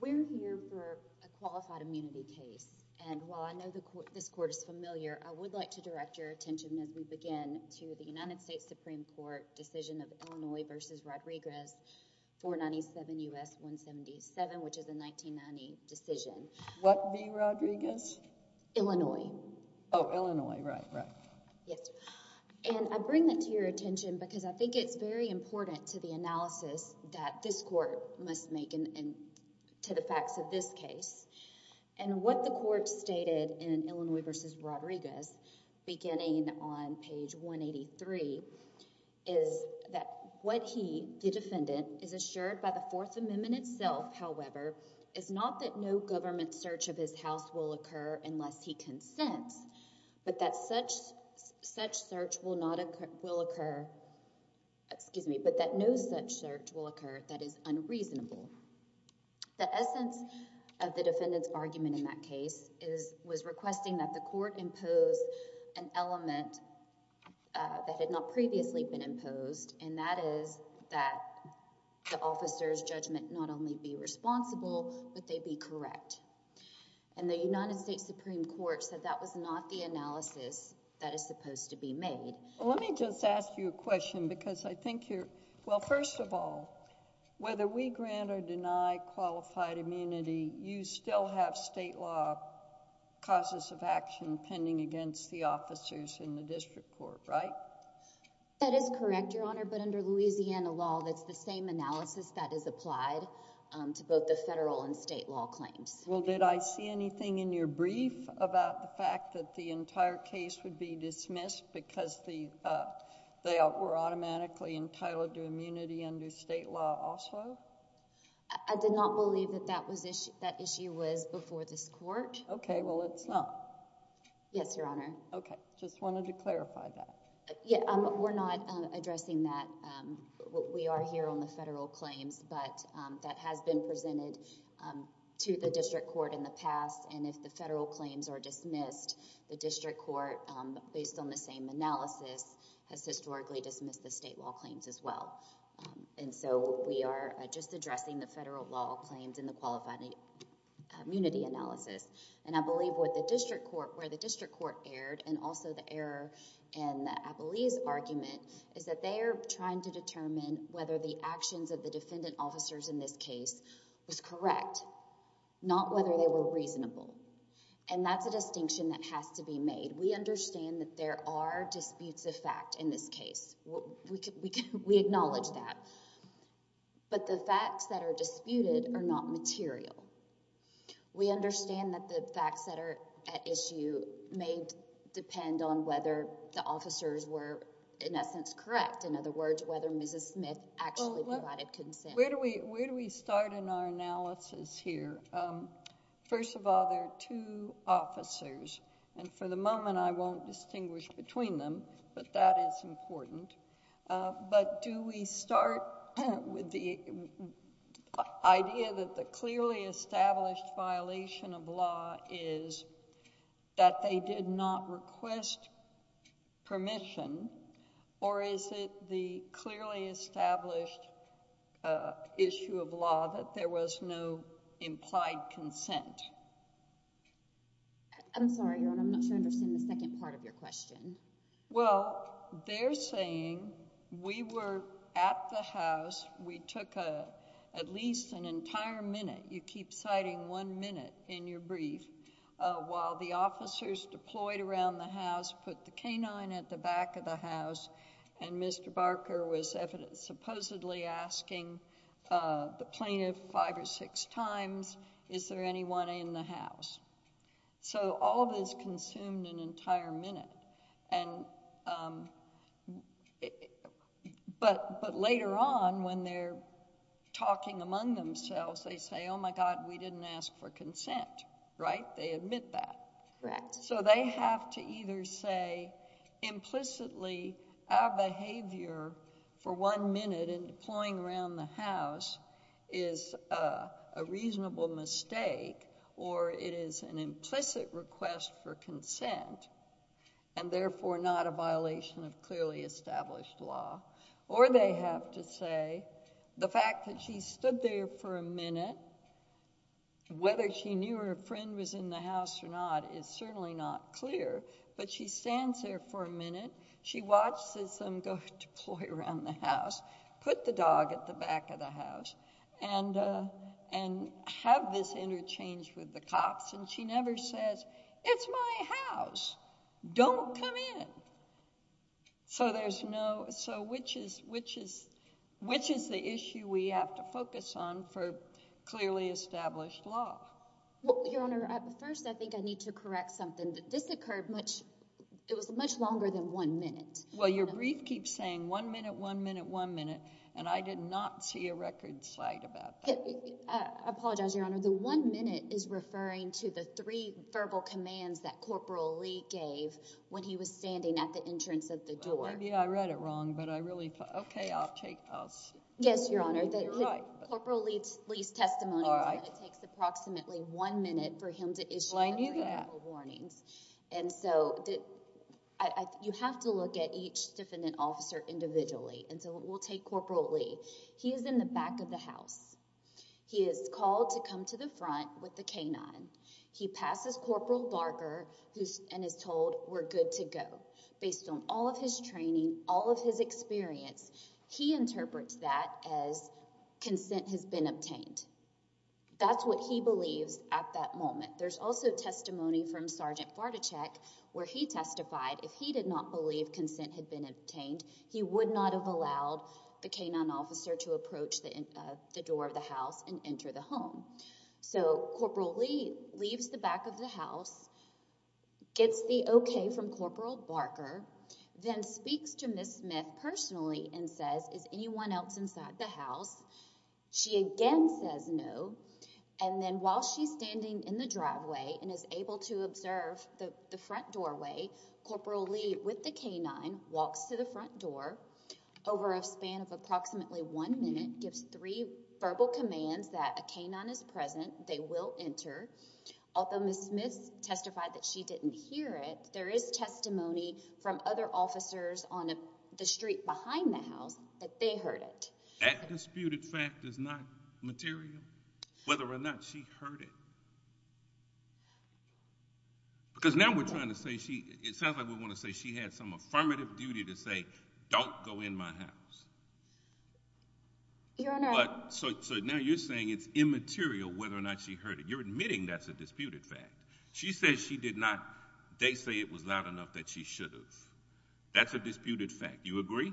We're here for a qualified immunity case. And while I know this court is familiar, I would like to direct your attention as we begin to the United States Supreme Court decision of Illinois v. Rodriguez, 497 U.S. 177, which is a 1990 decision. What v. Rodriguez? Illinois. Oh, Illinois, right, right. Yes. And I bring that to your attention because I think it's very important to the analysis that this court must make to the facts of this case. And what the court stated in Illinois v. Rodriguez, beginning on page 183, is that what he, the defendant, is assured by the Fourth Amendment itself, however, is not that no government search of his house will occur unless he consents, but that no such search will occur that is unreasonable. The essence of the defendant's argument in that case is, was requesting that the court impose an element that had not previously been imposed, and that is that the officer's judgment not only be responsible, but they be correct. And the United States Supreme Court said that was not the analysis that is supposed to be made. Well, let me just ask you a question because I think you're, well, first of all, whether we grant or deny qualified immunity, you still have state law causes of action pending against the officers in the district court, right? That is correct, Your Honor, but under Louisiana law, that's the same analysis that is applied to both the federal and state law claims. Well, did I see anything in your brief about the fact that the entire case would be dismissed because they were automatically entitled to immunity under state law also? I did not believe that that issue was before this court. Okay, well, it's not. Yes, Your Honor. Okay, just wanted to clarify that. Yeah, we're not addressing that. We are here on the federal claims, but that has been presented to the district court in the past, and if the federal claims are the same analysis has historically dismissed the state law claims as well, and so we are just addressing the federal law claims in the qualified immunity analysis, and I believe where the district court erred and also the error in the Appellee's argument is that they are trying to determine whether the actions of the defendant officers in this case was correct, not whether they were reasonable, and that's a distinction that has to be made. We understand that there are disputes of fact in this case. We acknowledge that, but the facts that are disputed are not material. We understand that the facts that are at issue may depend on whether the officers were in essence correct, in other words, whether Mrs. Smith actually provided consent. Where do we start in our analysis here? First of all, there are two officers, and for the moment I won't distinguish between them, but that is important, but do we start with the idea that the clearly established violation of law is that they did not request permission, or is it the clearly established issue of law that there was no implied consent? I'm sorry, Your Honor, I'm not sure I understand the second part of your question. Well, they're saying we were at the house, we took at least an entire minute, you keep citing one minute in your brief, while the officers deployed around the house, put the plaintiff five or six times, is there anyone in the house? All of this consumed an entire minute, but later on when they're talking among themselves, they say, oh my God, we didn't ask for consent, right? They admit that. Correct. They have to either say implicitly our behavior for one minute in deploying around the house is a reasonable mistake, or it is an implicit request for consent, and therefore not a violation of clearly established law, or they have to say the fact that she stood there for a minute, and whether she knew her friend was in the house or not is certainly not clear, but she stands there for a minute, she watches them go deploy around the house, put the dog at the back of the house, and have this interchange with the cops, and she never says, it's my house, don't come in. So which is the issue we have to focus on for clearly established law? Well, Your Honor, first I think I need to correct something. This occurred much, it was much longer than one minute. Well, your brief keeps saying one minute, one minute, one minute, and I did not see a record cite about that. I apologize, Your Honor. The one minute is referring to the three verbal commands that Corporal Lee gave when he was standing at the entrance of the door. Well, maybe I read it wrong, but I really, okay, I'll take, I'll see. Yes, Your Honor. You're right. Corporal Lee's testimony was that it takes approximately one minute for him to issue three verbal warnings. Well, I knew that. And so you have to look at each defendant officer individually, and so we'll take Corporal Lee. He is in the back of the house. He is called to come to the front with the K-9. He passes Corporal Barker and is told, we're good to go. Based on all of his training, all of his experience, he interprets that as consent has been obtained. That's what he believes at that moment. There's also testimony from Sergeant Vartacek where he testified if he did not believe consent had been obtained, he would not have allowed the K-9 officer to approach the door of the house and enter the home. So Corporal Lee leaves the back of the house, gets the okay from Corporal Barker, then speaks to Ms. Smith personally and says, is anyone else inside the house? She again says no, and then while she's standing in the driveway and is able to observe the front doorway, Corporal Lee with the K-9 walks to the front door over a span of approximately one minute, gives three verbal commands that a K-9 is present, they will enter. Although Ms. Smith testified that she didn't hear it, there is testimony from other officers on the street behind the house that they heard it. That disputed fact is not material, whether or not she heard it. Because now we're trying to say she, it sounds like we want to say she had some affirmative duty to say, don't go in my house. Your Honor. So now you're saying it's immaterial whether or not she heard it. You're admitting that's a disputed fact. She says she did not, they say it was loud enough that she should have. That's a disputed fact. You agree?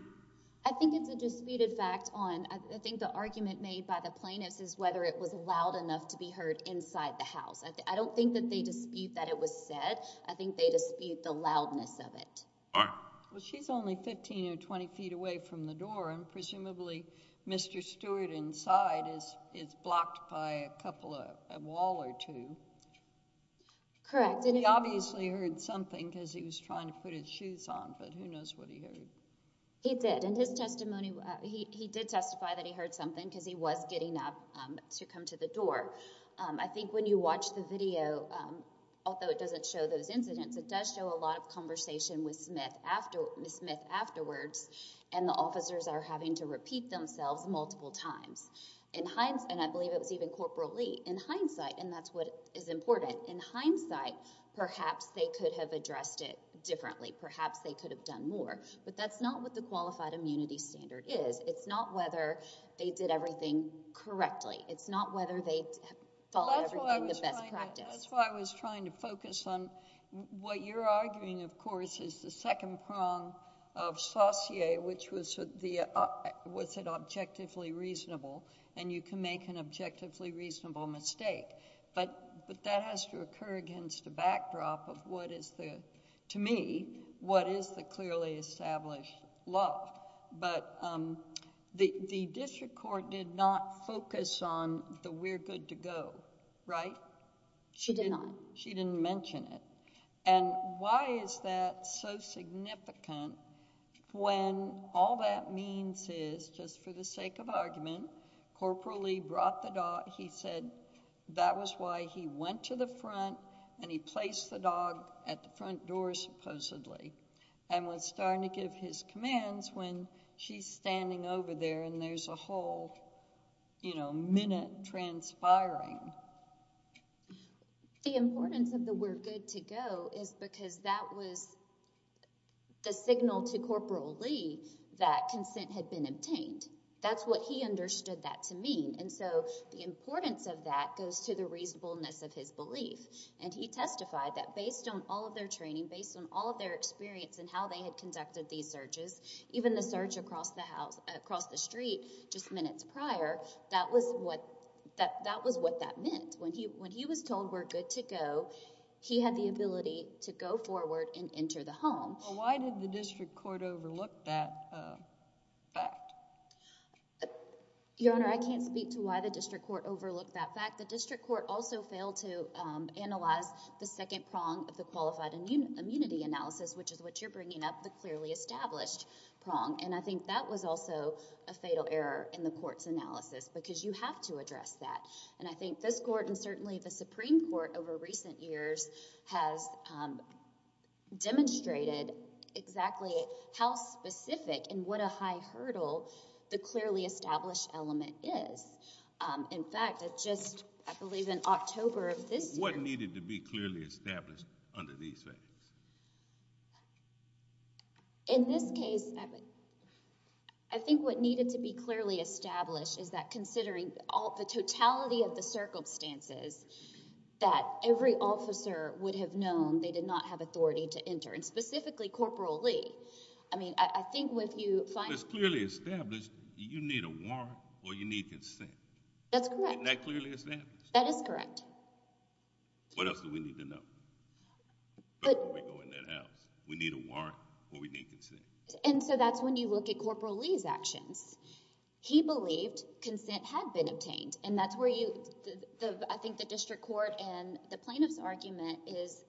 I think it's a disputed fact on, I think the argument made by the plaintiffs is whether it was loud enough to be heard inside the house. I don't think that they dispute that it was said. I think they dispute the loudness of it. Well, she's only 15 or 20 feet away from the door and presumably Mr. Stewart inside is blocked by a wall or two. Correct. He obviously heard something because he was trying to put his shoes on, but who knows what he heard. He did. In his testimony, he did testify that he heard something because he was getting up to come to the door. I think when you watch the video, although it doesn't show those incidents, it does show a lot of conversation with Smith afterwards and the officers are having to repeat themselves multiple times. I believe it was even Corporal Lee. In hindsight, and that's what is important, in hindsight, perhaps they could have addressed it differently. Perhaps they could have done more, but that's not what the qualified immunity standard is. It's not whether they did everything correctly. It's not whether they followed everything, the best practice. That's why I was trying to focus on... what you're arguing, of course, is the second prong of Saussure, which was the, was it objectively reasonable and you can make an objectively reasonable mistake, but that has to occur against the backdrop of what is the, to me, what is the clearly established law. The district court did not focus on the we're good to go, right? She did not. She didn't mention it. Why is that so significant when all that means is, just for the sake of argument, Corporal Lee brought the dog. He said that was why he went to the front and he placed the dog at the front door, supposedly, and was starting to give his commands when she's standing over there and there's a whole, you know, minute transpiring. The importance of the we're good to go is because that was the signal to Corporal Lee that consent had been obtained. That's what he understood that to mean, and so the importance of that goes to the reasonableness of his belief, and he testified that based on all of their training, based on all of their experience and how they had conducted these searches, even the search across the house, across the street just minutes prior, that was what, that was what that meant. When he was told we're good to go, he had the ability to go forward and enter the home. Why did the district court overlook that fact? Your Honor, I can't speak to why the district court overlooked that fact. The district court also failed to analyze the second prong of the qualified immunity analysis, which is what you're bringing up, the clearly established prong, and I think that was also a fatal error in the court's analysis because you have to address that, and I think this court and certainly the Supreme Court over recent years has demonstrated exactly how specific and what a high hurdle the clearly established element is. In fact, it just, I believe in October of this year... What needed to be clearly established under these factors? In this case, I think what needed to be clearly established is that considering the totality of the circumstances, that every officer would have known they did not have authority to enter, and specifically Corporal Lee. I mean, I think what you... If it's clearly established, you need a warrant or you need consent. That's correct. Isn't that clearly established? That is correct. What else do we need to know before we go in that house? We need a warrant or we need consent. That's when you look at Corporal Lee's actions. He believed consent had been obtained, and that's where you... I think the district court and the plaintiff's argument is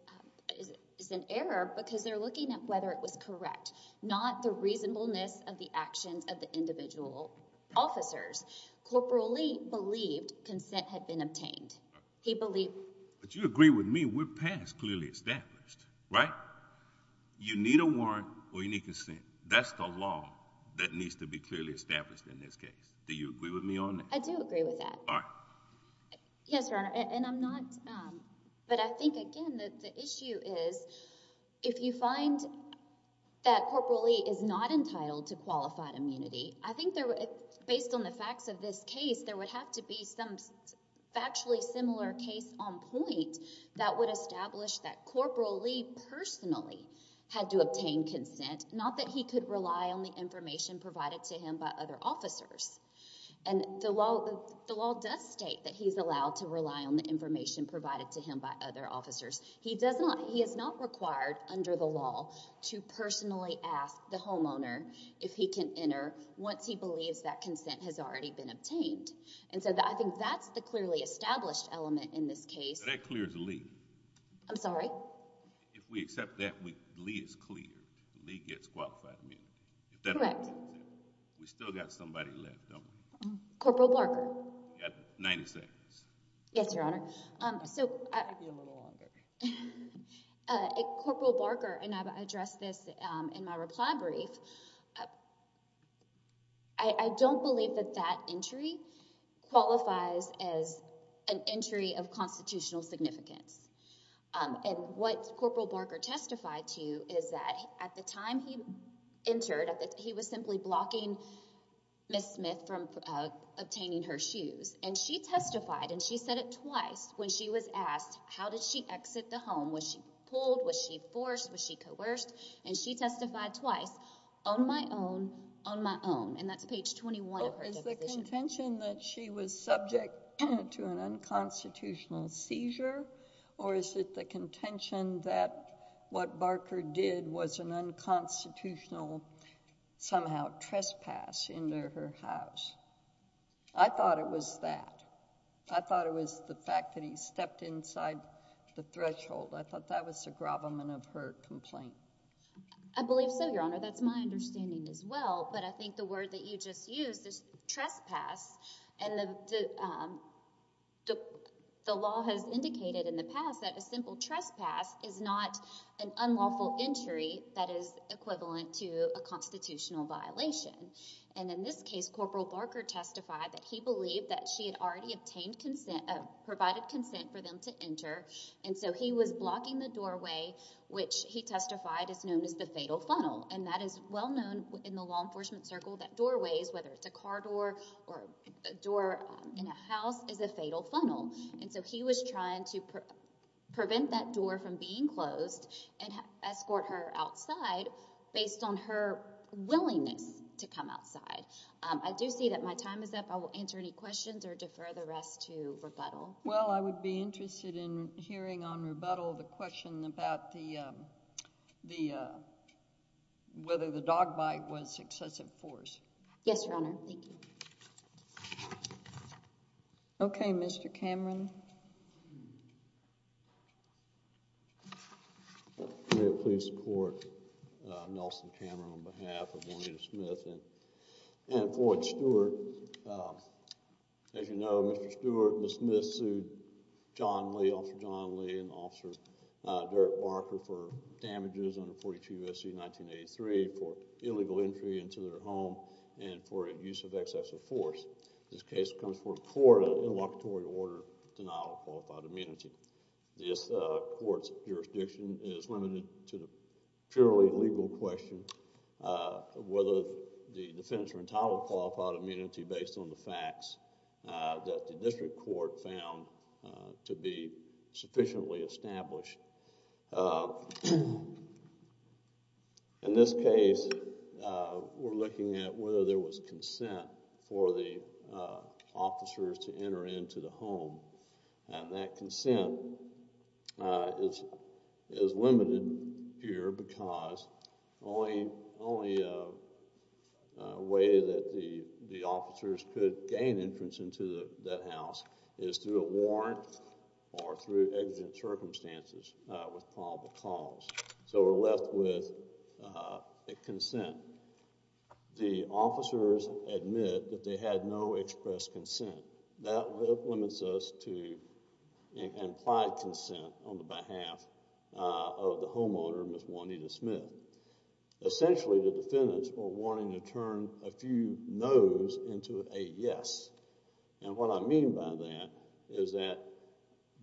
an error because they're looking at whether it was correct, not the reasonableness of the actions of the individual officers. Corporal Lee believed consent had been obtained. He believed... But you agree with me, we're past clearly established, right? You need a warrant or you need consent. That's the law that needs to be clearly established in this case. Do you agree with me on that? I do agree with that. All right. Yes, Your Honor, and I'm not... I find that Corporal Lee is not entitled to qualified immunity. I think based on the facts of this case, there would have to be some factually similar case on point that would establish that Corporal Lee personally had to obtain consent, not that he could rely on the information provided to him by other officers. The law does state that he's allowed to rely on the information provided to him by other officers. He is not required under the law to personally ask the homeowner if he can enter once he believes that consent has already been obtained. I think that's the clearly established element in this case. That clears Lee. I'm sorry? If we accept that, Lee is cleared. Lee gets qualified immunity. Correct. We still got somebody left, don't we? Corporal Barker. You got 90 seconds. Yes, Your Honor. It could be a little longer. Corporal Barker, and I've addressed this in my reply brief, I don't believe that that entry qualifies as an entry of constitutional significance. What Corporal Barker testified to is that at the time he entered, he was simply blocking Ms. Smith from obtaining her shoes. She testified, and she said it twice when she was asked, how did she exit the home? Was she pulled? Was she forced? Was she coerced? She testified twice, on my own, on my own. That's page 21 of her deposition. Is the contention that she was subject to an unconstitutional seizure, or is it the contention that what Barker did was an unconstitutional somehow trespass into her house? I thought it was that. I thought it was the fact that he stepped inside the threshold. I thought that was the gravamen of her complaint. I believe so, Your Honor. That's my understanding as well. But I think the word that you just used is trespass, and the law has indicated in the past that a simple trespass is not an unlawful entry that is equivalent to a constitutional violation. And in this case, Corporal Barker testified that he believed that she had already obtained consent, provided consent for them to enter. And so he was blocking the doorway, which he testified is known as the fatal funnel. And that is well known in the law enforcement circle that doorways, whether it's a car door or a door in a house, is a fatal funnel. And so he was trying to prevent that door from being closed and escort her outside based on her willingness to come outside. I do see that my time is up. I will answer any questions or defer the rest to rebuttal. Well, I would be interested in hearing on rebuttal the question about whether the dog bite was excessive force. Yes, Your Honor. Thank you. Okay, Mr. Cameron. May it please the Court, Nelson Cameron on behalf of Juanita Smith and Floyd Stewart. As you know, Mr. Stewart and the Smiths sued John Lee, Officer John Lee and Officer Derek Barker for damages under 42 U.S.C. 1983 for illegal entry into their home and for use of excessive force. This case comes before a court of interlocutory order denial of qualified immunity. This Court's jurisdiction is limited to the purely legal question of whether the defense are entitled to qualified immunity based on the facts that the district court found to be sufficiently established. In this case, we're looking at whether there was consent for the officers to enter into the home and that consent is limited here because the only way that the officers could gain entrance into that house is through a warrant or through exigent circumstances with probable cause. So we're left with a consent. The officers admit that they had no express consent. That limits us to implied consent on the behalf of the homeowner, Ms. Juanita Smith. Essentially, the defendants were wanting to turn a few no's into a yes. And what I mean by that is that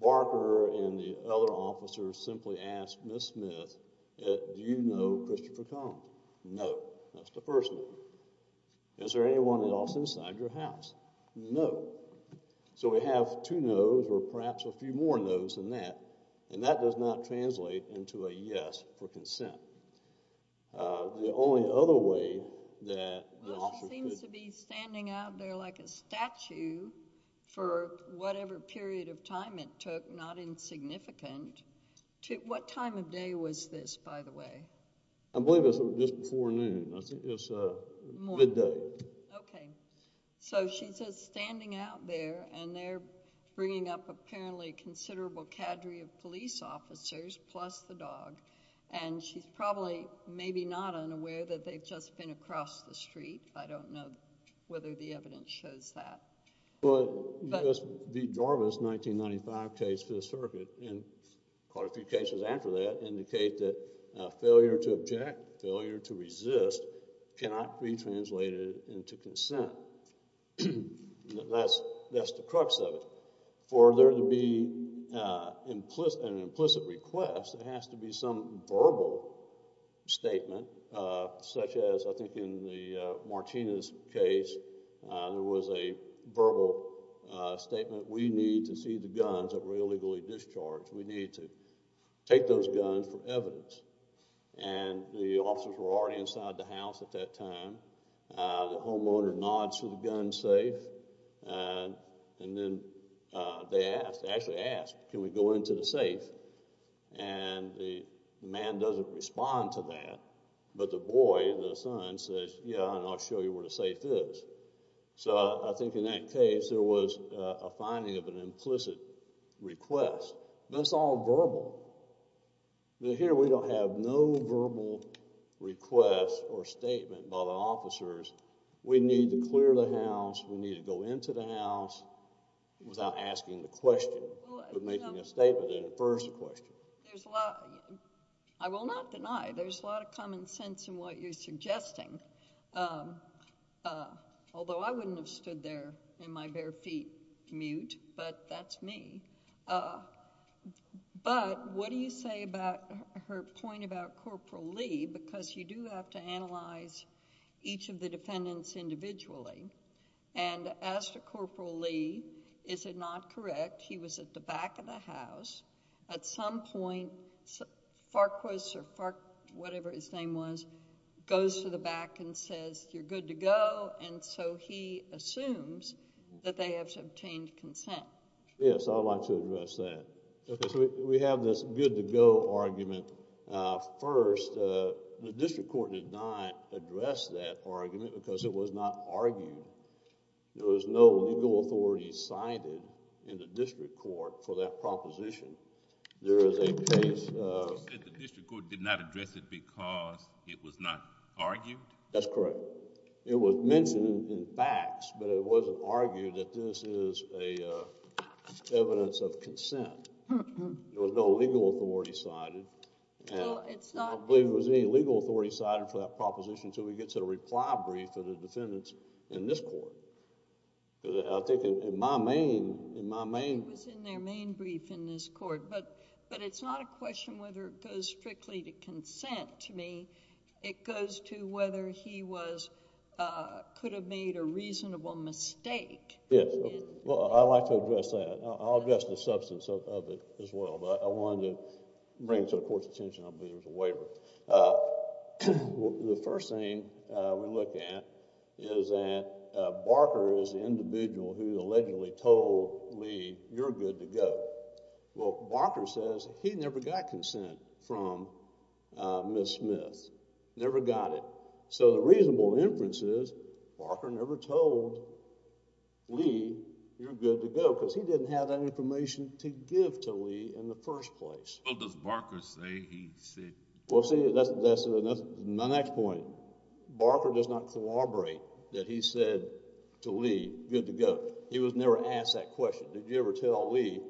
Barker and the other officers simply asked Ms. Smith, do you know Christopher Collins? No. That's the first no. Is there anyone else inside your house? No. So we have two no's or perhaps a few more no's than that and that does not translate into a yes for consent. The only other way that the officers could... She seems to be standing out there like a statue for whatever period of time it took, not insignificant. What time of day was this, by the way? I believe it was just before noon. I think it was midday. Okay. So she's just standing out there and they're bringing up apparently a considerable cadre of police officers plus the dog. And she's probably maybe not unaware that they've just been across the street. I don't know whether the evidence shows that. Well, the Jarvis 1995 case for the circuit and quite a few cases after that indicate that failure to object, failure to resist cannot be translated into consent. That's the crux of it. For there to be an implicit request, it has to be some verbal statement such as I think in the Martinez case there was a verbal statement, we need to see the guns that were illegally discharged. We need to take those guns for evidence. And the officers were already inside the house at that time. The homeowner nods to the gun safe and then they actually ask, can we go into the safe? And the man doesn't respond to that. But the boy, the son, says, yeah, and I'll show you where the safe is. So I think in that case there was a finding of an implicit request. That's all verbal. Here we don't have no verbal request or statement by the officers. We need to clear the house. We need to go into the house without asking the question, but making a statement that infers the question. I will not deny there's a lot of common sense in what you're suggesting, although I wouldn't have stood there in my bare feet mute, but that's me. But what do you say about her point about Corporal Lee? Because you do have to analyze each of the defendants individually. And as to Corporal Lee, is it not correct, he was at the back of the house. At some point, Farquhar, or whatever his name was, goes to the back and says, you're good to go. And so he assumes that they have obtained consent. Yes, I would like to address that. Okay, so we have this good to go argument. First, the district court did not address that argument because it was not argued. There was no legal authority cited in the district court for that proposition. There is a case... You said the district court did not address it because it was not argued? That's correct. It was mentioned in facts, but it wasn't argued that this is evidence of consent. There was no legal authority cited. I don't believe there was any legal authority cited for that proposition until we get to the reply brief of the defendants in this court. I think in my main... It was in their main brief in this court, but it's not a question whether it goes strictly to consent to me. It goes to whether he could have made a reasonable mistake. Yes, well, I'd like to address that. I'll address the substance of it as well, but I wanted to bring it to the court's attention. I don't believe there was a waiver. The first thing we look at is that Barker is the individual who allegedly told Lee, you're good to go. Well, Barker says he never got consent from Ms. Smith, never got it. So the reasonable inference is Barker never told Lee, you're good to go, because he didn't have that information to give to Lee in the first place. Well, does Barker say he said... Well, see, that's my next point. Barker does not collaborate that he said to Lee, good to go. He was never asked that question. Did you ever tell Lee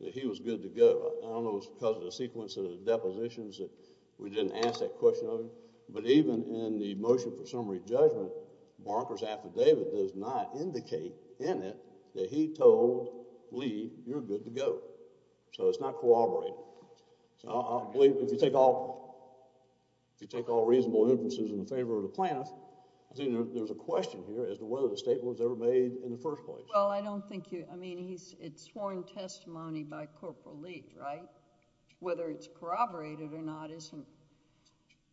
that he was good to go? I don't know if it was because of the sequence of the depositions that we didn't ask that question of him, but even in the motion for summary judgment, Barker's affidavit does not indicate in it that he told Lee, you're good to go. So it's not collaborating. So I believe if you take all reasonable inferences in favor of the plaintiff, there's a question here as to whether the statement was ever made in the first place. Well, I don't think you... I mean, it's sworn testimony by Corporal Lee, right? Whether it's corroborated or not isn't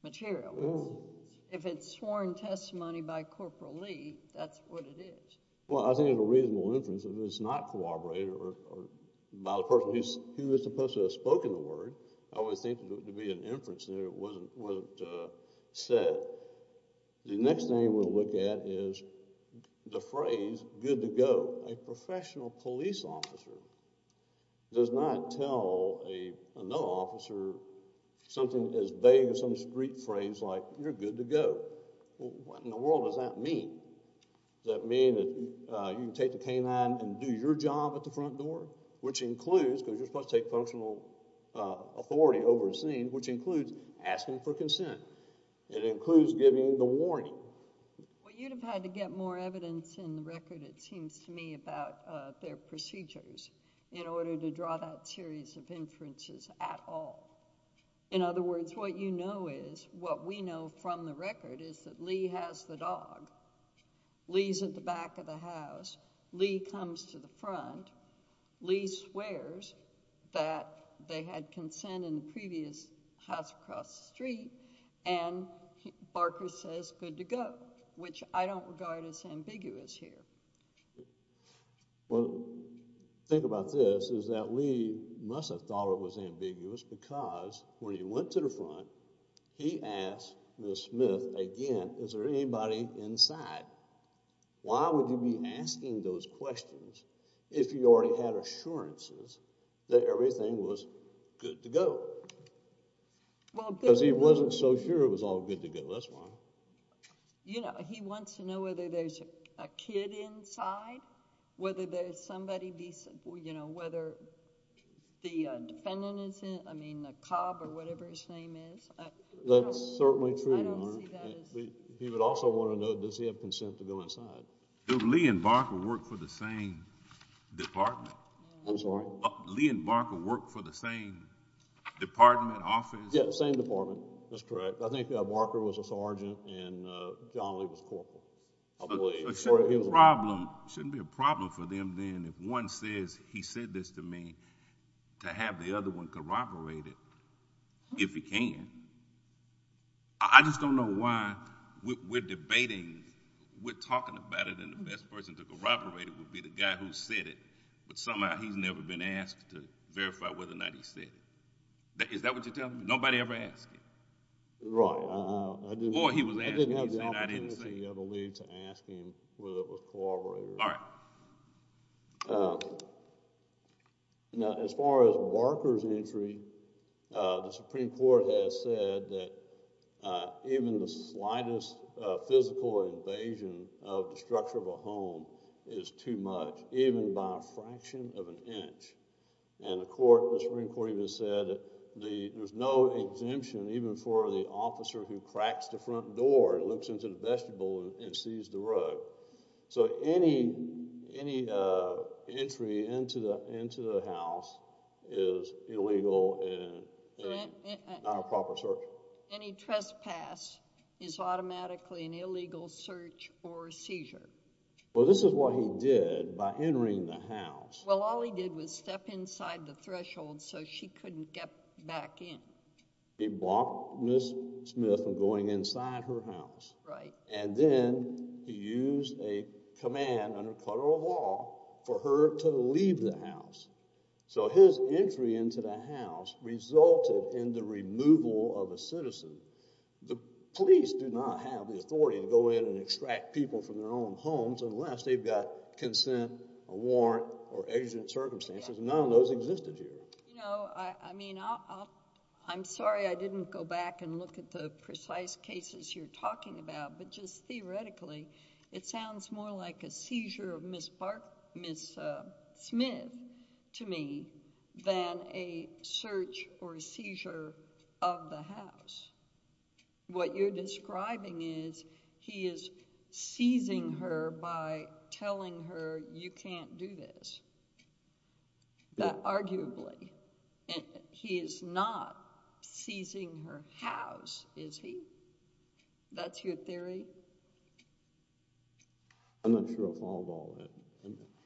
material. If it's sworn testimony by Corporal Lee, that's what it is. Well, I think it's a reasonable inference. If it's not corroborated by the person who was supposed to have spoken the word, I always think there would be an inference there that wasn't said. The next thing we'll look at is the phrase, good to go. A professional police officer does not tell another officer something as vague as some street phrase like, you're good to go. What in the world does that mean? Does that mean that you can take the canine and do your job at the front door? Which includes, because you're supposed to take functional authority over a scene, which includes asking for consent. It includes giving the warning. Well, you'd have had to get more evidence in the record, it seems to me, about their procedures in order to draw that series of inferences at all. In other words, what you know is, what we know from the record is that Lee has the dog. Lee's at the back of the house. Lee comes to the front. Lee swears that they had consent in the previous house across the street, and Barker says, good to go, which I don't regard as ambiguous here. Well, think about this, is that Lee must have thought it was ambiguous because when he went to the front, he asked Ms. Smith again, is there anybody inside? Why would you be asking those questions if you already had assurances that everything was good to go? Because he wasn't so sure it was all good to go, that's why. You know, he wants to know whether there's a kid inside, whether there's somebody decent, you know, whether the defendant is... I mean the cop or whatever his name is. That's certainly true, Your Honor. I don't see that as... He would also want to know does he have consent to go inside. Do Lee and Barker work for the same department? I'm sorry? Lee and Barker work for the same department, office? Yes, same department. That's correct. I think Barker was a sergeant and John Lee was corporal, I believe. So it shouldn't be a problem for them then if one says he said this to me to have the other one corroborate it if he can. I just don't know why we're debating, we're talking about it and the best person to corroborate it would be the guy who said it, but somehow he's never been asked to verify whether or not he said it. Is that what you're telling me? Nobody ever asked him? Right. Or he was asking and he said I didn't say it. I didn't have the opportunity, I believe, to ask him whether it was corroborated. All right. Now as far as Barker's entry, the Supreme Court has said that even the slightest physical invasion of the structure of a home is too much, even by a fraction of an inch. And the Supreme Court even said that there's no exemption even for the officer who cracks the front door So any entry into the house is illegal and not a proper search. Any trespass is automatically an illegal search or seizure. Well, this is what he did by entering the house. Well, all he did was step inside the threshold so she couldn't get back in. He blocked Ms. Smith from going inside her house. Right. And then he used a command under federal law for her to leave the house. So his entry into the house resulted in the removal of a citizen. The police do not have the authority to go in and extract people from their own homes unless they've got consent, a warrant, or exigent circumstances. None of those existed here. I mean, I'm sorry I didn't go back and look at the precise cases you're talking about, but just theoretically, it sounds more like a seizure of Ms. Smith to me than a search or seizure of the house. What you're describing is he is seizing her by telling her, you can't do this. Arguably. He is not seizing her house, is he? That's your theory? I'm not sure I followed all that.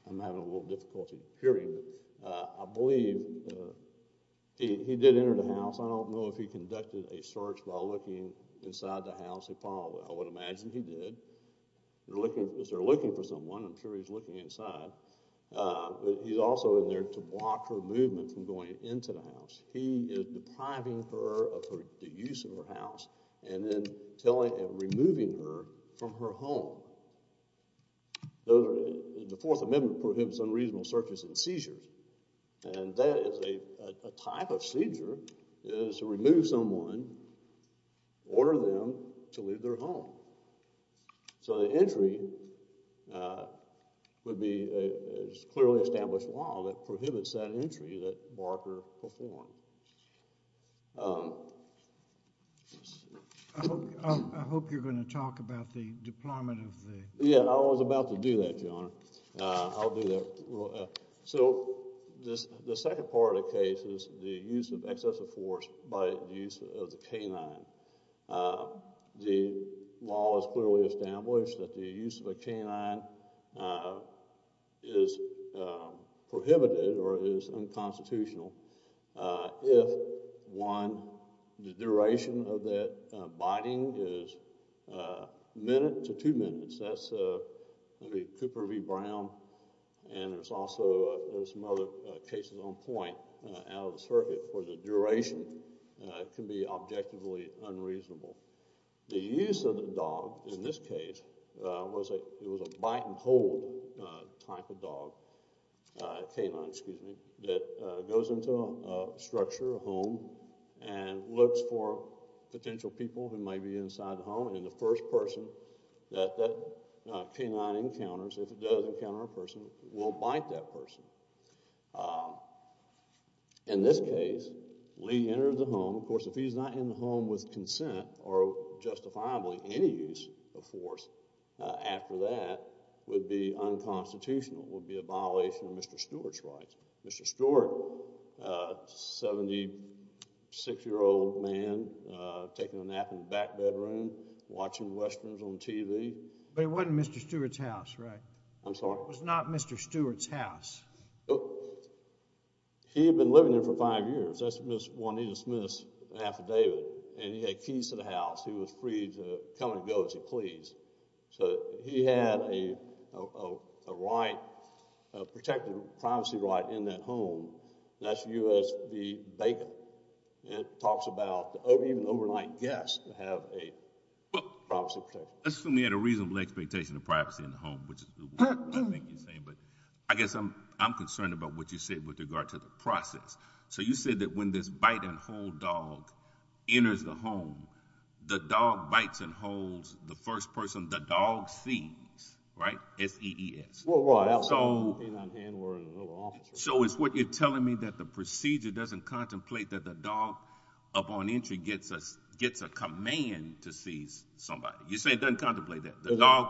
I'm having a little difficulty hearing it. I believe he did enter the house. I don't know if he conducted a search while looking inside the house. I would imagine he did. If they're looking for someone, I'm sure he's looking inside. He is depriving her of the use of her house and then telling and removing her from her home. The Fourth Amendment prohibits unreasonable searches and seizures, and that is a type of seizure is to remove someone, order them to leave their home. So the entry would be a clearly established law that prohibits that entry that Barker performed. I hope you're going to talk about the deployment of the— Yeah, I was about to do that, Your Honor. I'll do that. So the second part of the case is the use of excessive force by the use of the canine. The law is clearly established that the use of a canine is prohibited or is unconstitutional if, one, the duration of that biting is a minute to two minutes. That's Cooper v. Brown, and there's also some other cases on point out of the circuit. The duration can be objectively unreasonable. The use of the dog in this case was a bite-and-hold type of dog, canine, excuse me, that goes into a structure, a home, and looks for potential people who may be inside the home, and the first person that that canine encounters, if it does encounter a person, will bite that person. In this case, Lee entered the home. Of course, if he's not in the home with consent or justifiably any use of force after that, it would be unconstitutional. It would be a violation of Mr. Stewart's rights. Mr. Stewart, a 76-year-old man, taking a nap in the back bedroom, watching Westerns on TV— But it wasn't Mr. Stewart's house, right? I'm sorry? No, it was not Mr. Stewart's house. He had been living there for five years. That's when he dismissed an affidavit, and he had keys to the house. He was free to come and go as he pleased. So he had a right, a protected privacy right, in that home. That's U.S. v. Bacon. It talks about even overnight guests have a privacy protection. Let's assume he had a reasonable expectation of privacy in the home, which is what I think you're saying. But I guess I'm concerned about what you said with regard to the process. So you said that when this bite-and-hold dog enters the home, the dog bites and holds the first person the dog sees, right? S-E-E-S. Well, right. So it's what you're telling me, that the procedure doesn't contemplate that the dog, upon entry, gets a command to seize somebody. You're saying it doesn't contemplate that. The dog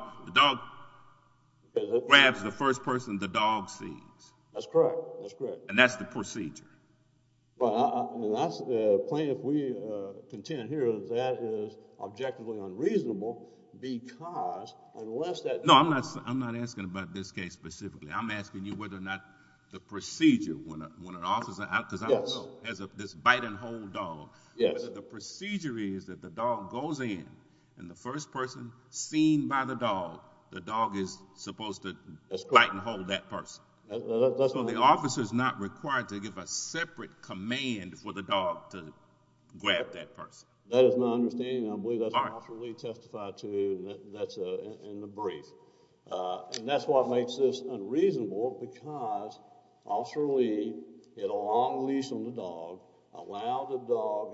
grabs the first person the dog sees. That's correct. That's correct. And that's the procedure. Well, that's plain if we contend here that that is objectively unreasonable because unless that dog— No, I'm not asking about this case specifically. I'm asking you whether or not the procedure, when an officer— Yes. Because I don't know, as this bite-and-hold dog. Yes. The procedure is that the dog goes in, and the first person seen by the dog, the dog is supposed to bite-and-hold that person. So the officer is not required to give a separate command for the dog to grab that person. That is my understanding, and I believe that's what Officer Lee testified to in the brief. And that's what makes this unreasonable because Officer Lee, in a long lease on the dog, allows the dog,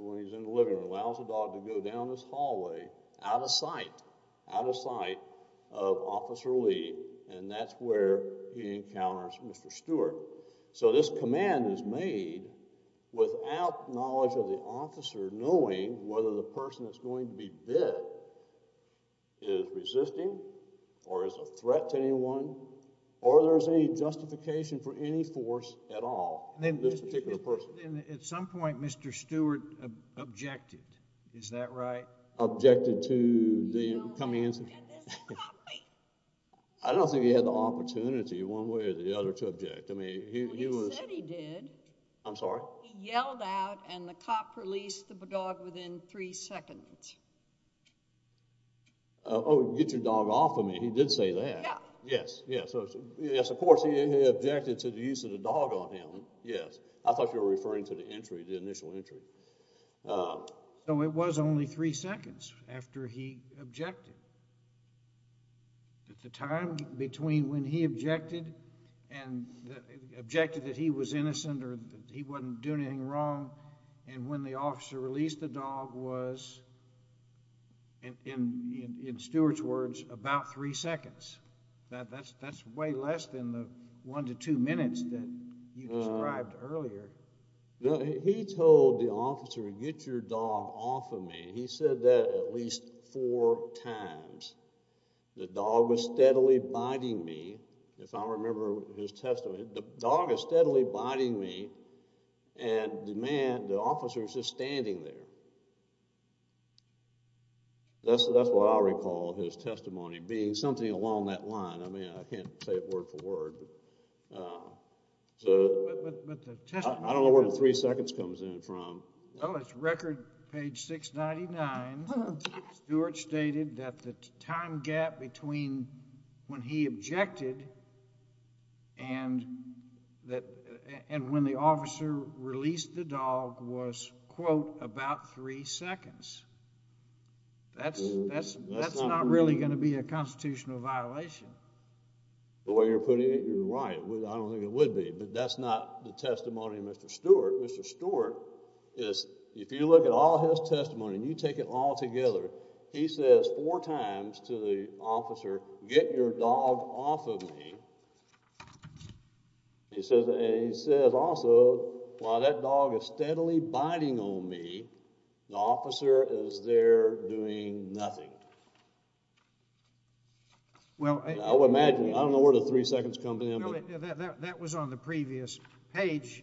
when he's in the living room, allows the dog to go down this hallway out of sight, out of sight of Officer Lee, and that's where he encounters Mr. Stewart. So this command is made without knowledge of the officer knowing whether the person that's going to be bit is resisting or is a threat to anyone or there's any justification for any force at all, this particular person. At some point, Mr. Stewart objected. Is that right? Objected to the coming incident? No, he objected to the coming— I don't think he had the opportunity one way or the other to object. I mean, he was— Well, he said he did. I'm sorry? He yelled out, and the cop released the dog within three seconds. Oh, get your dog off of me. He did say that. Yeah. Yes, yes. Of course, he objected to the use of the dog on him, yes. I thought you were referring to the entry, the initial entry. So it was only three seconds after he objected. At the time between when he objected and—objected that he was innocent or that he wasn't doing anything wrong and when the officer released the dog was, in Stewart's words, about three seconds. That's way less than the one to two minutes that you described earlier. No, he told the officer, get your dog off of me. He said that at least four times. The dog was steadily biting me, if I remember his testimony. The dog is steadily biting me, and the man, the officer, is just standing there. That's what I recall his testimony being, something along that line. I mean, I can't say it word for word. But the testimony— I don't know where the three seconds comes in from. Well, it's record page 699. Stewart stated that the time gap between when he objected and when the officer released the dog was, quote, about three seconds. That's not really going to be a constitutional violation. The way you're putting it, you're right. I don't think it would be. But that's not the testimony of Mr. Stewart. Mr. Stewart is—if you look at all his testimony and you take it all together, he says four times to the officer, get your dog off of me. He says also, while that dog is steadily biting on me, the officer is there doing nothing. Well— I would imagine. I don't know where the three seconds come in. That was on the previous page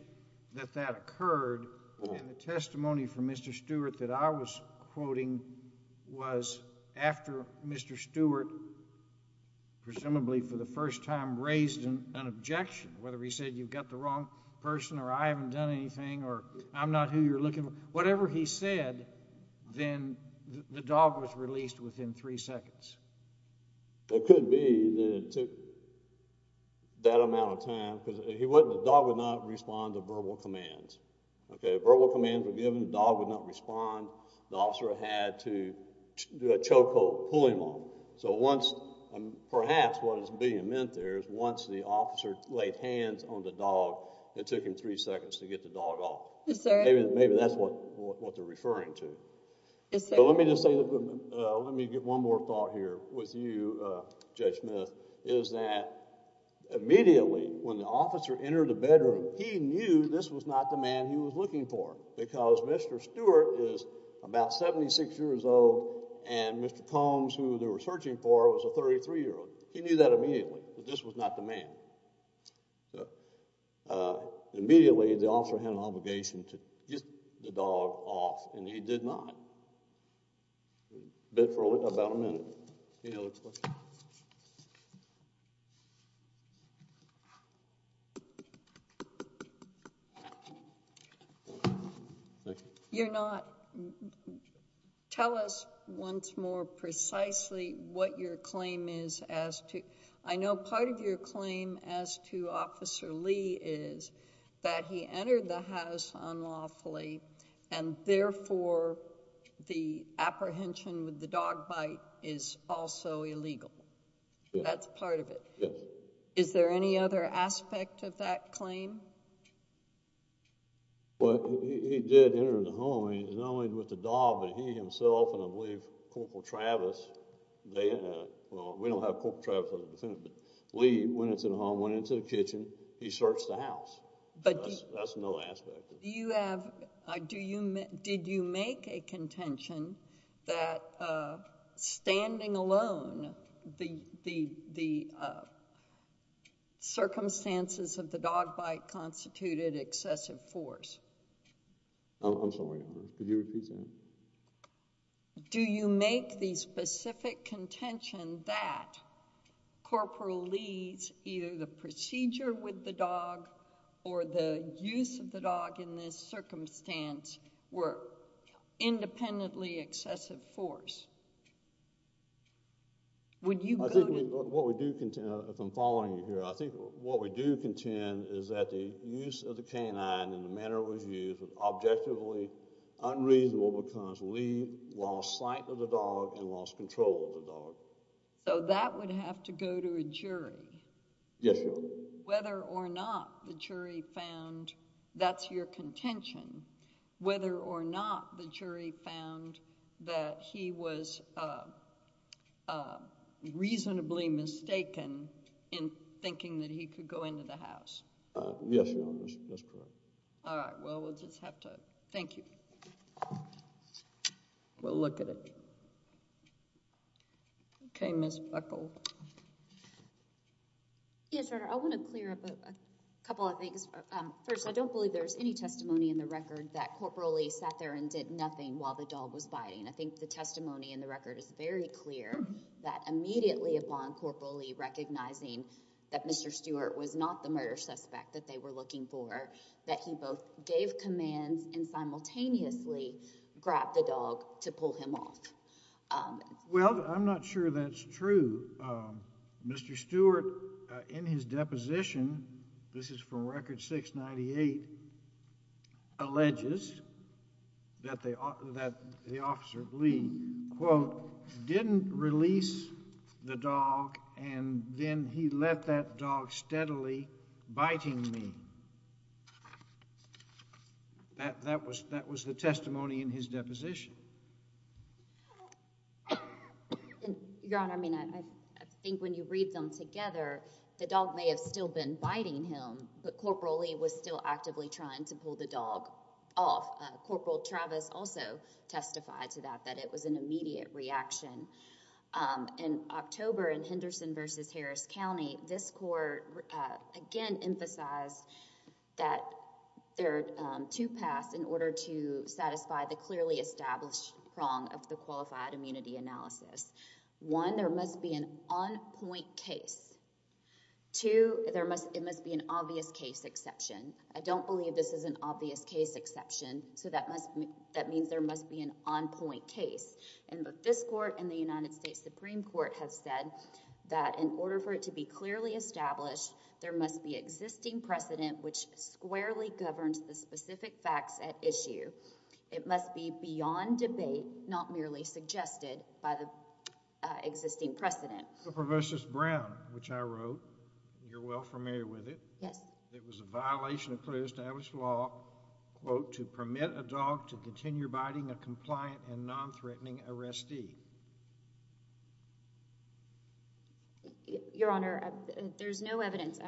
that that occurred. And the testimony from Mr. Stewart that I was quoting was after Mr. Stewart, presumably for the first time, raised an objection, whether he said, you've got the wrong person, or I haven't done anything, or I'm not who you're looking for. Whatever he said, then the dog was released within three seconds. It could be that it took that amount of time. The dog would not respond to verbal commands. Verbal commands were given. The dog would not respond. The officer had to do a choke hold, pull him on. So once—perhaps what is being meant there is once the officer laid hands on the dog, it took him three seconds to get the dog off. Yes, sir. Maybe that's what they're referring to. Yes, sir. Let me just say—let me give one more thought here with you, Judge Smith, is that immediately when the officer entered the bedroom, he knew this was not the man he was looking for because Mr. Stewart is about 76 years old and Mr. Combs, who they were searching for, was a 33-year-old. He knew that immediately that this was not the man. So immediately, the officer had an obligation to get the dog off, and he did not, but for about a minute. Any other questions? Thank you. You're not—tell us once more precisely what your claim is as to—I know part of your claim as to Officer Lee is that he entered the house unlawfully, and therefore, the apprehension with the dog bite is also illegal. Yes. That's part of it. Yes. Is there any other aspect of that claim? Well, he did enter the home. Not only with the dog, but he himself and, I believe, Corporal Travis—well, we don't have Corporal Travis as a defendant, but Lee went into the home, went into the kitchen. He searched the house. That's another aspect of it. Did you make a contention that standing alone, the circumstances of the dog bite constituted excessive force? I'm sorry. Could you repeat that? Do you make the specific contention that Corporal Lee's either the procedure with the dog or the use of the dog in this circumstance were independently excessive force? Would you go to— If I'm following you here, I think what we do contend is that the use of the canine in the manner it was used was objectively unreasonable because Lee lost sight of the dog and lost control of the dog. So that would have to go to a jury? Yes, Your Honor. Did—whether or not the jury found—that's your contention—whether or not the jury found that he was reasonably mistaken in thinking that he could go into the house? Yes, Your Honor. That's correct. All right. Well, we'll just have to—thank you. We'll look at it. Okay, Ms. Buckle. Yes, Your Honor. I want to clear up a couple of things. First, I don't believe there's any testimony in the record that Corporal Lee sat there and did nothing while the dog was biting. I think the testimony in the record is very clear that immediately upon Corporal Lee recognizing that Mr. Stewart was not the murder suspect that they were looking for, that he both gave commands and simultaneously grabbed the dog to pull him off. Well, I'm not sure that's true. Mr. Stewart, in his deposition—this is from Record 698—alleges that the officer Lee, quote, didn't release the dog and then he left that dog steadily biting me. That was the testimony in his deposition. Your Honor, I mean, I think when you read them together, the dog may have still been biting him, but Corporal Lee was still actively trying to pull the dog off. Corporal Travis also testified to that, that it was an immediate reaction. In October, in Henderson v. Harris County, this court, again, emphasized that there are two paths in order to satisfy the clearly established prong of the qualified immunity analysis. One, there must be an on-point case. Two, there must be an obvious case exception. I don't believe this is an obvious case exception, so that means there must be an on-point case. And this court and the United States Supreme Court have said that in order for it to be clearly established, there must be existing precedent which squarely governs the specific facts at issue. It must be beyond debate, not merely suggested by the existing precedent. So, Professor Brown, which I wrote, you're well familiar with it. Yes. It was a violation of clearly established law, quote, to permit a dog to continue biting a compliant and non-threatening arrestee. Your Honor, there's no evidence.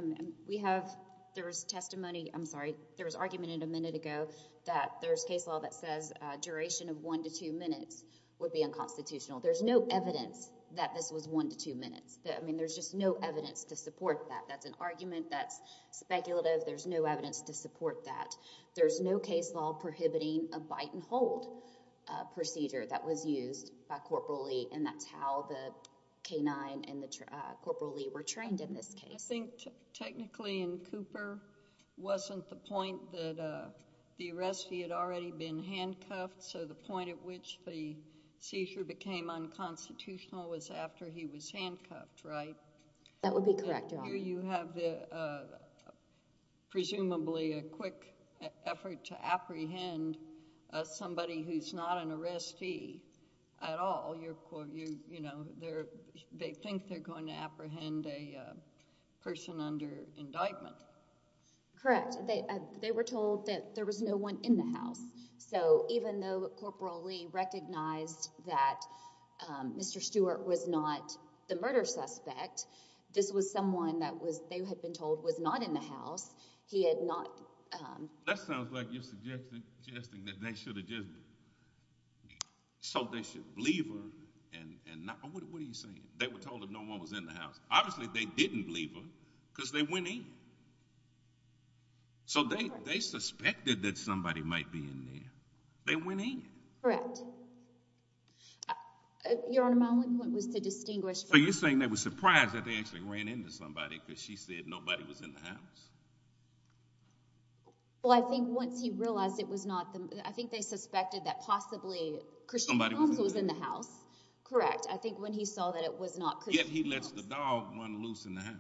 We have, there was testimony, I'm sorry, there was argument a minute ago that there's case law that says duration of one to two minutes would be unconstitutional. There's no evidence that this was one to two minutes. I mean, there's just no evidence to support that. That's an argument. That's speculative. There's no evidence to support that. There's no case law prohibiting a bite and hold procedure that was used by Corporal Lee, and that's how the K-9 and Corporal Lee were trained in this case. I think technically in Cooper wasn't the point that the arrestee had already been handcuffed, so the point at which the seizure became unconstitutional was after he was handcuffed, right? That would be correct, Your Honor. Here you have presumably a quick effort to apprehend somebody who's not an arrestee at all. You're, you know, they think they're going to apprehend a person under indictment. Correct. They were told that there was no one in the house. So even though Corporal Lee recognized that Mr. Stewart was not the murder suspect, this was someone that they had been told was not in the house. He had not— That sounds like you're suggesting that they should have just—so they should have believed her and not—what are you saying? They were told that no one was in the house. Obviously, they didn't believe her because they went in. So they suspected that somebody might be in there. They went in. Correct. Your Honor, my only point was to distinguish— So you're saying they were surprised that they actually ran into somebody because she said nobody was in the house? Well, I think once he realized it was not the—I think they suspected that possibly Christian Holmes was in the house. Correct. I think when he saw that it was not Christian Holmes— Yet he lets the dog run loose in the house.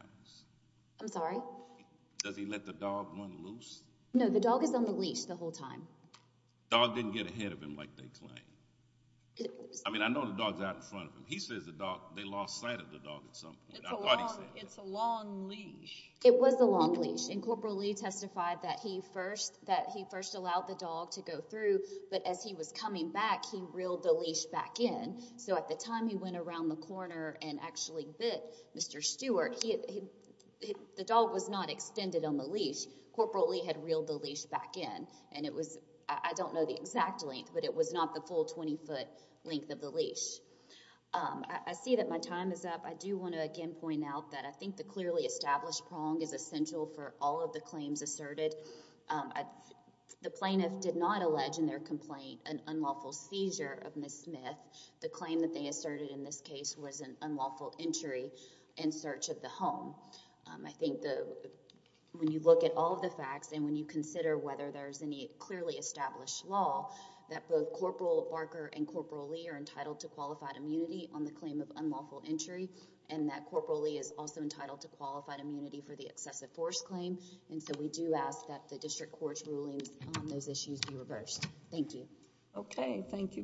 I'm sorry? Does he let the dog run loose? No, the dog is on the leash the whole time. The dog didn't get ahead of him like they claimed? I mean, I know the dog's out in front of him. He says the dog—they lost sight of the dog at some point. It's a long leash. It was a long leash, and Corporal Lee testified that he first allowed the dog to go through, but as he was coming back, he reeled the leash back in. So at the time he went around the corner and actually bit Mr. Stewart, the dog was not extended on the leash. Corporal Lee had reeled the leash back in, and it was—I don't know the exact length, but it was not the full 20-foot length of the leash. I see that my time is up. I do want to again point out that I think the clearly established prong is essential for all of the claims asserted. The plaintiff did not allege in their complaint an unlawful seizure of Ms. Smith. The claim that they asserted in this case was an unlawful entry in search of the home. I think when you look at all of the facts and when you consider whether there's any clearly established law, that both Corporal Barker and Corporal Lee are entitled to qualified immunity on the claim of unlawful entry, and that Corporal Lee is also entitled to qualified immunity for the excessive force claim. And so we do ask that the district court's rulings on those issues be reversed. Thank you. Okay. Thank you very much.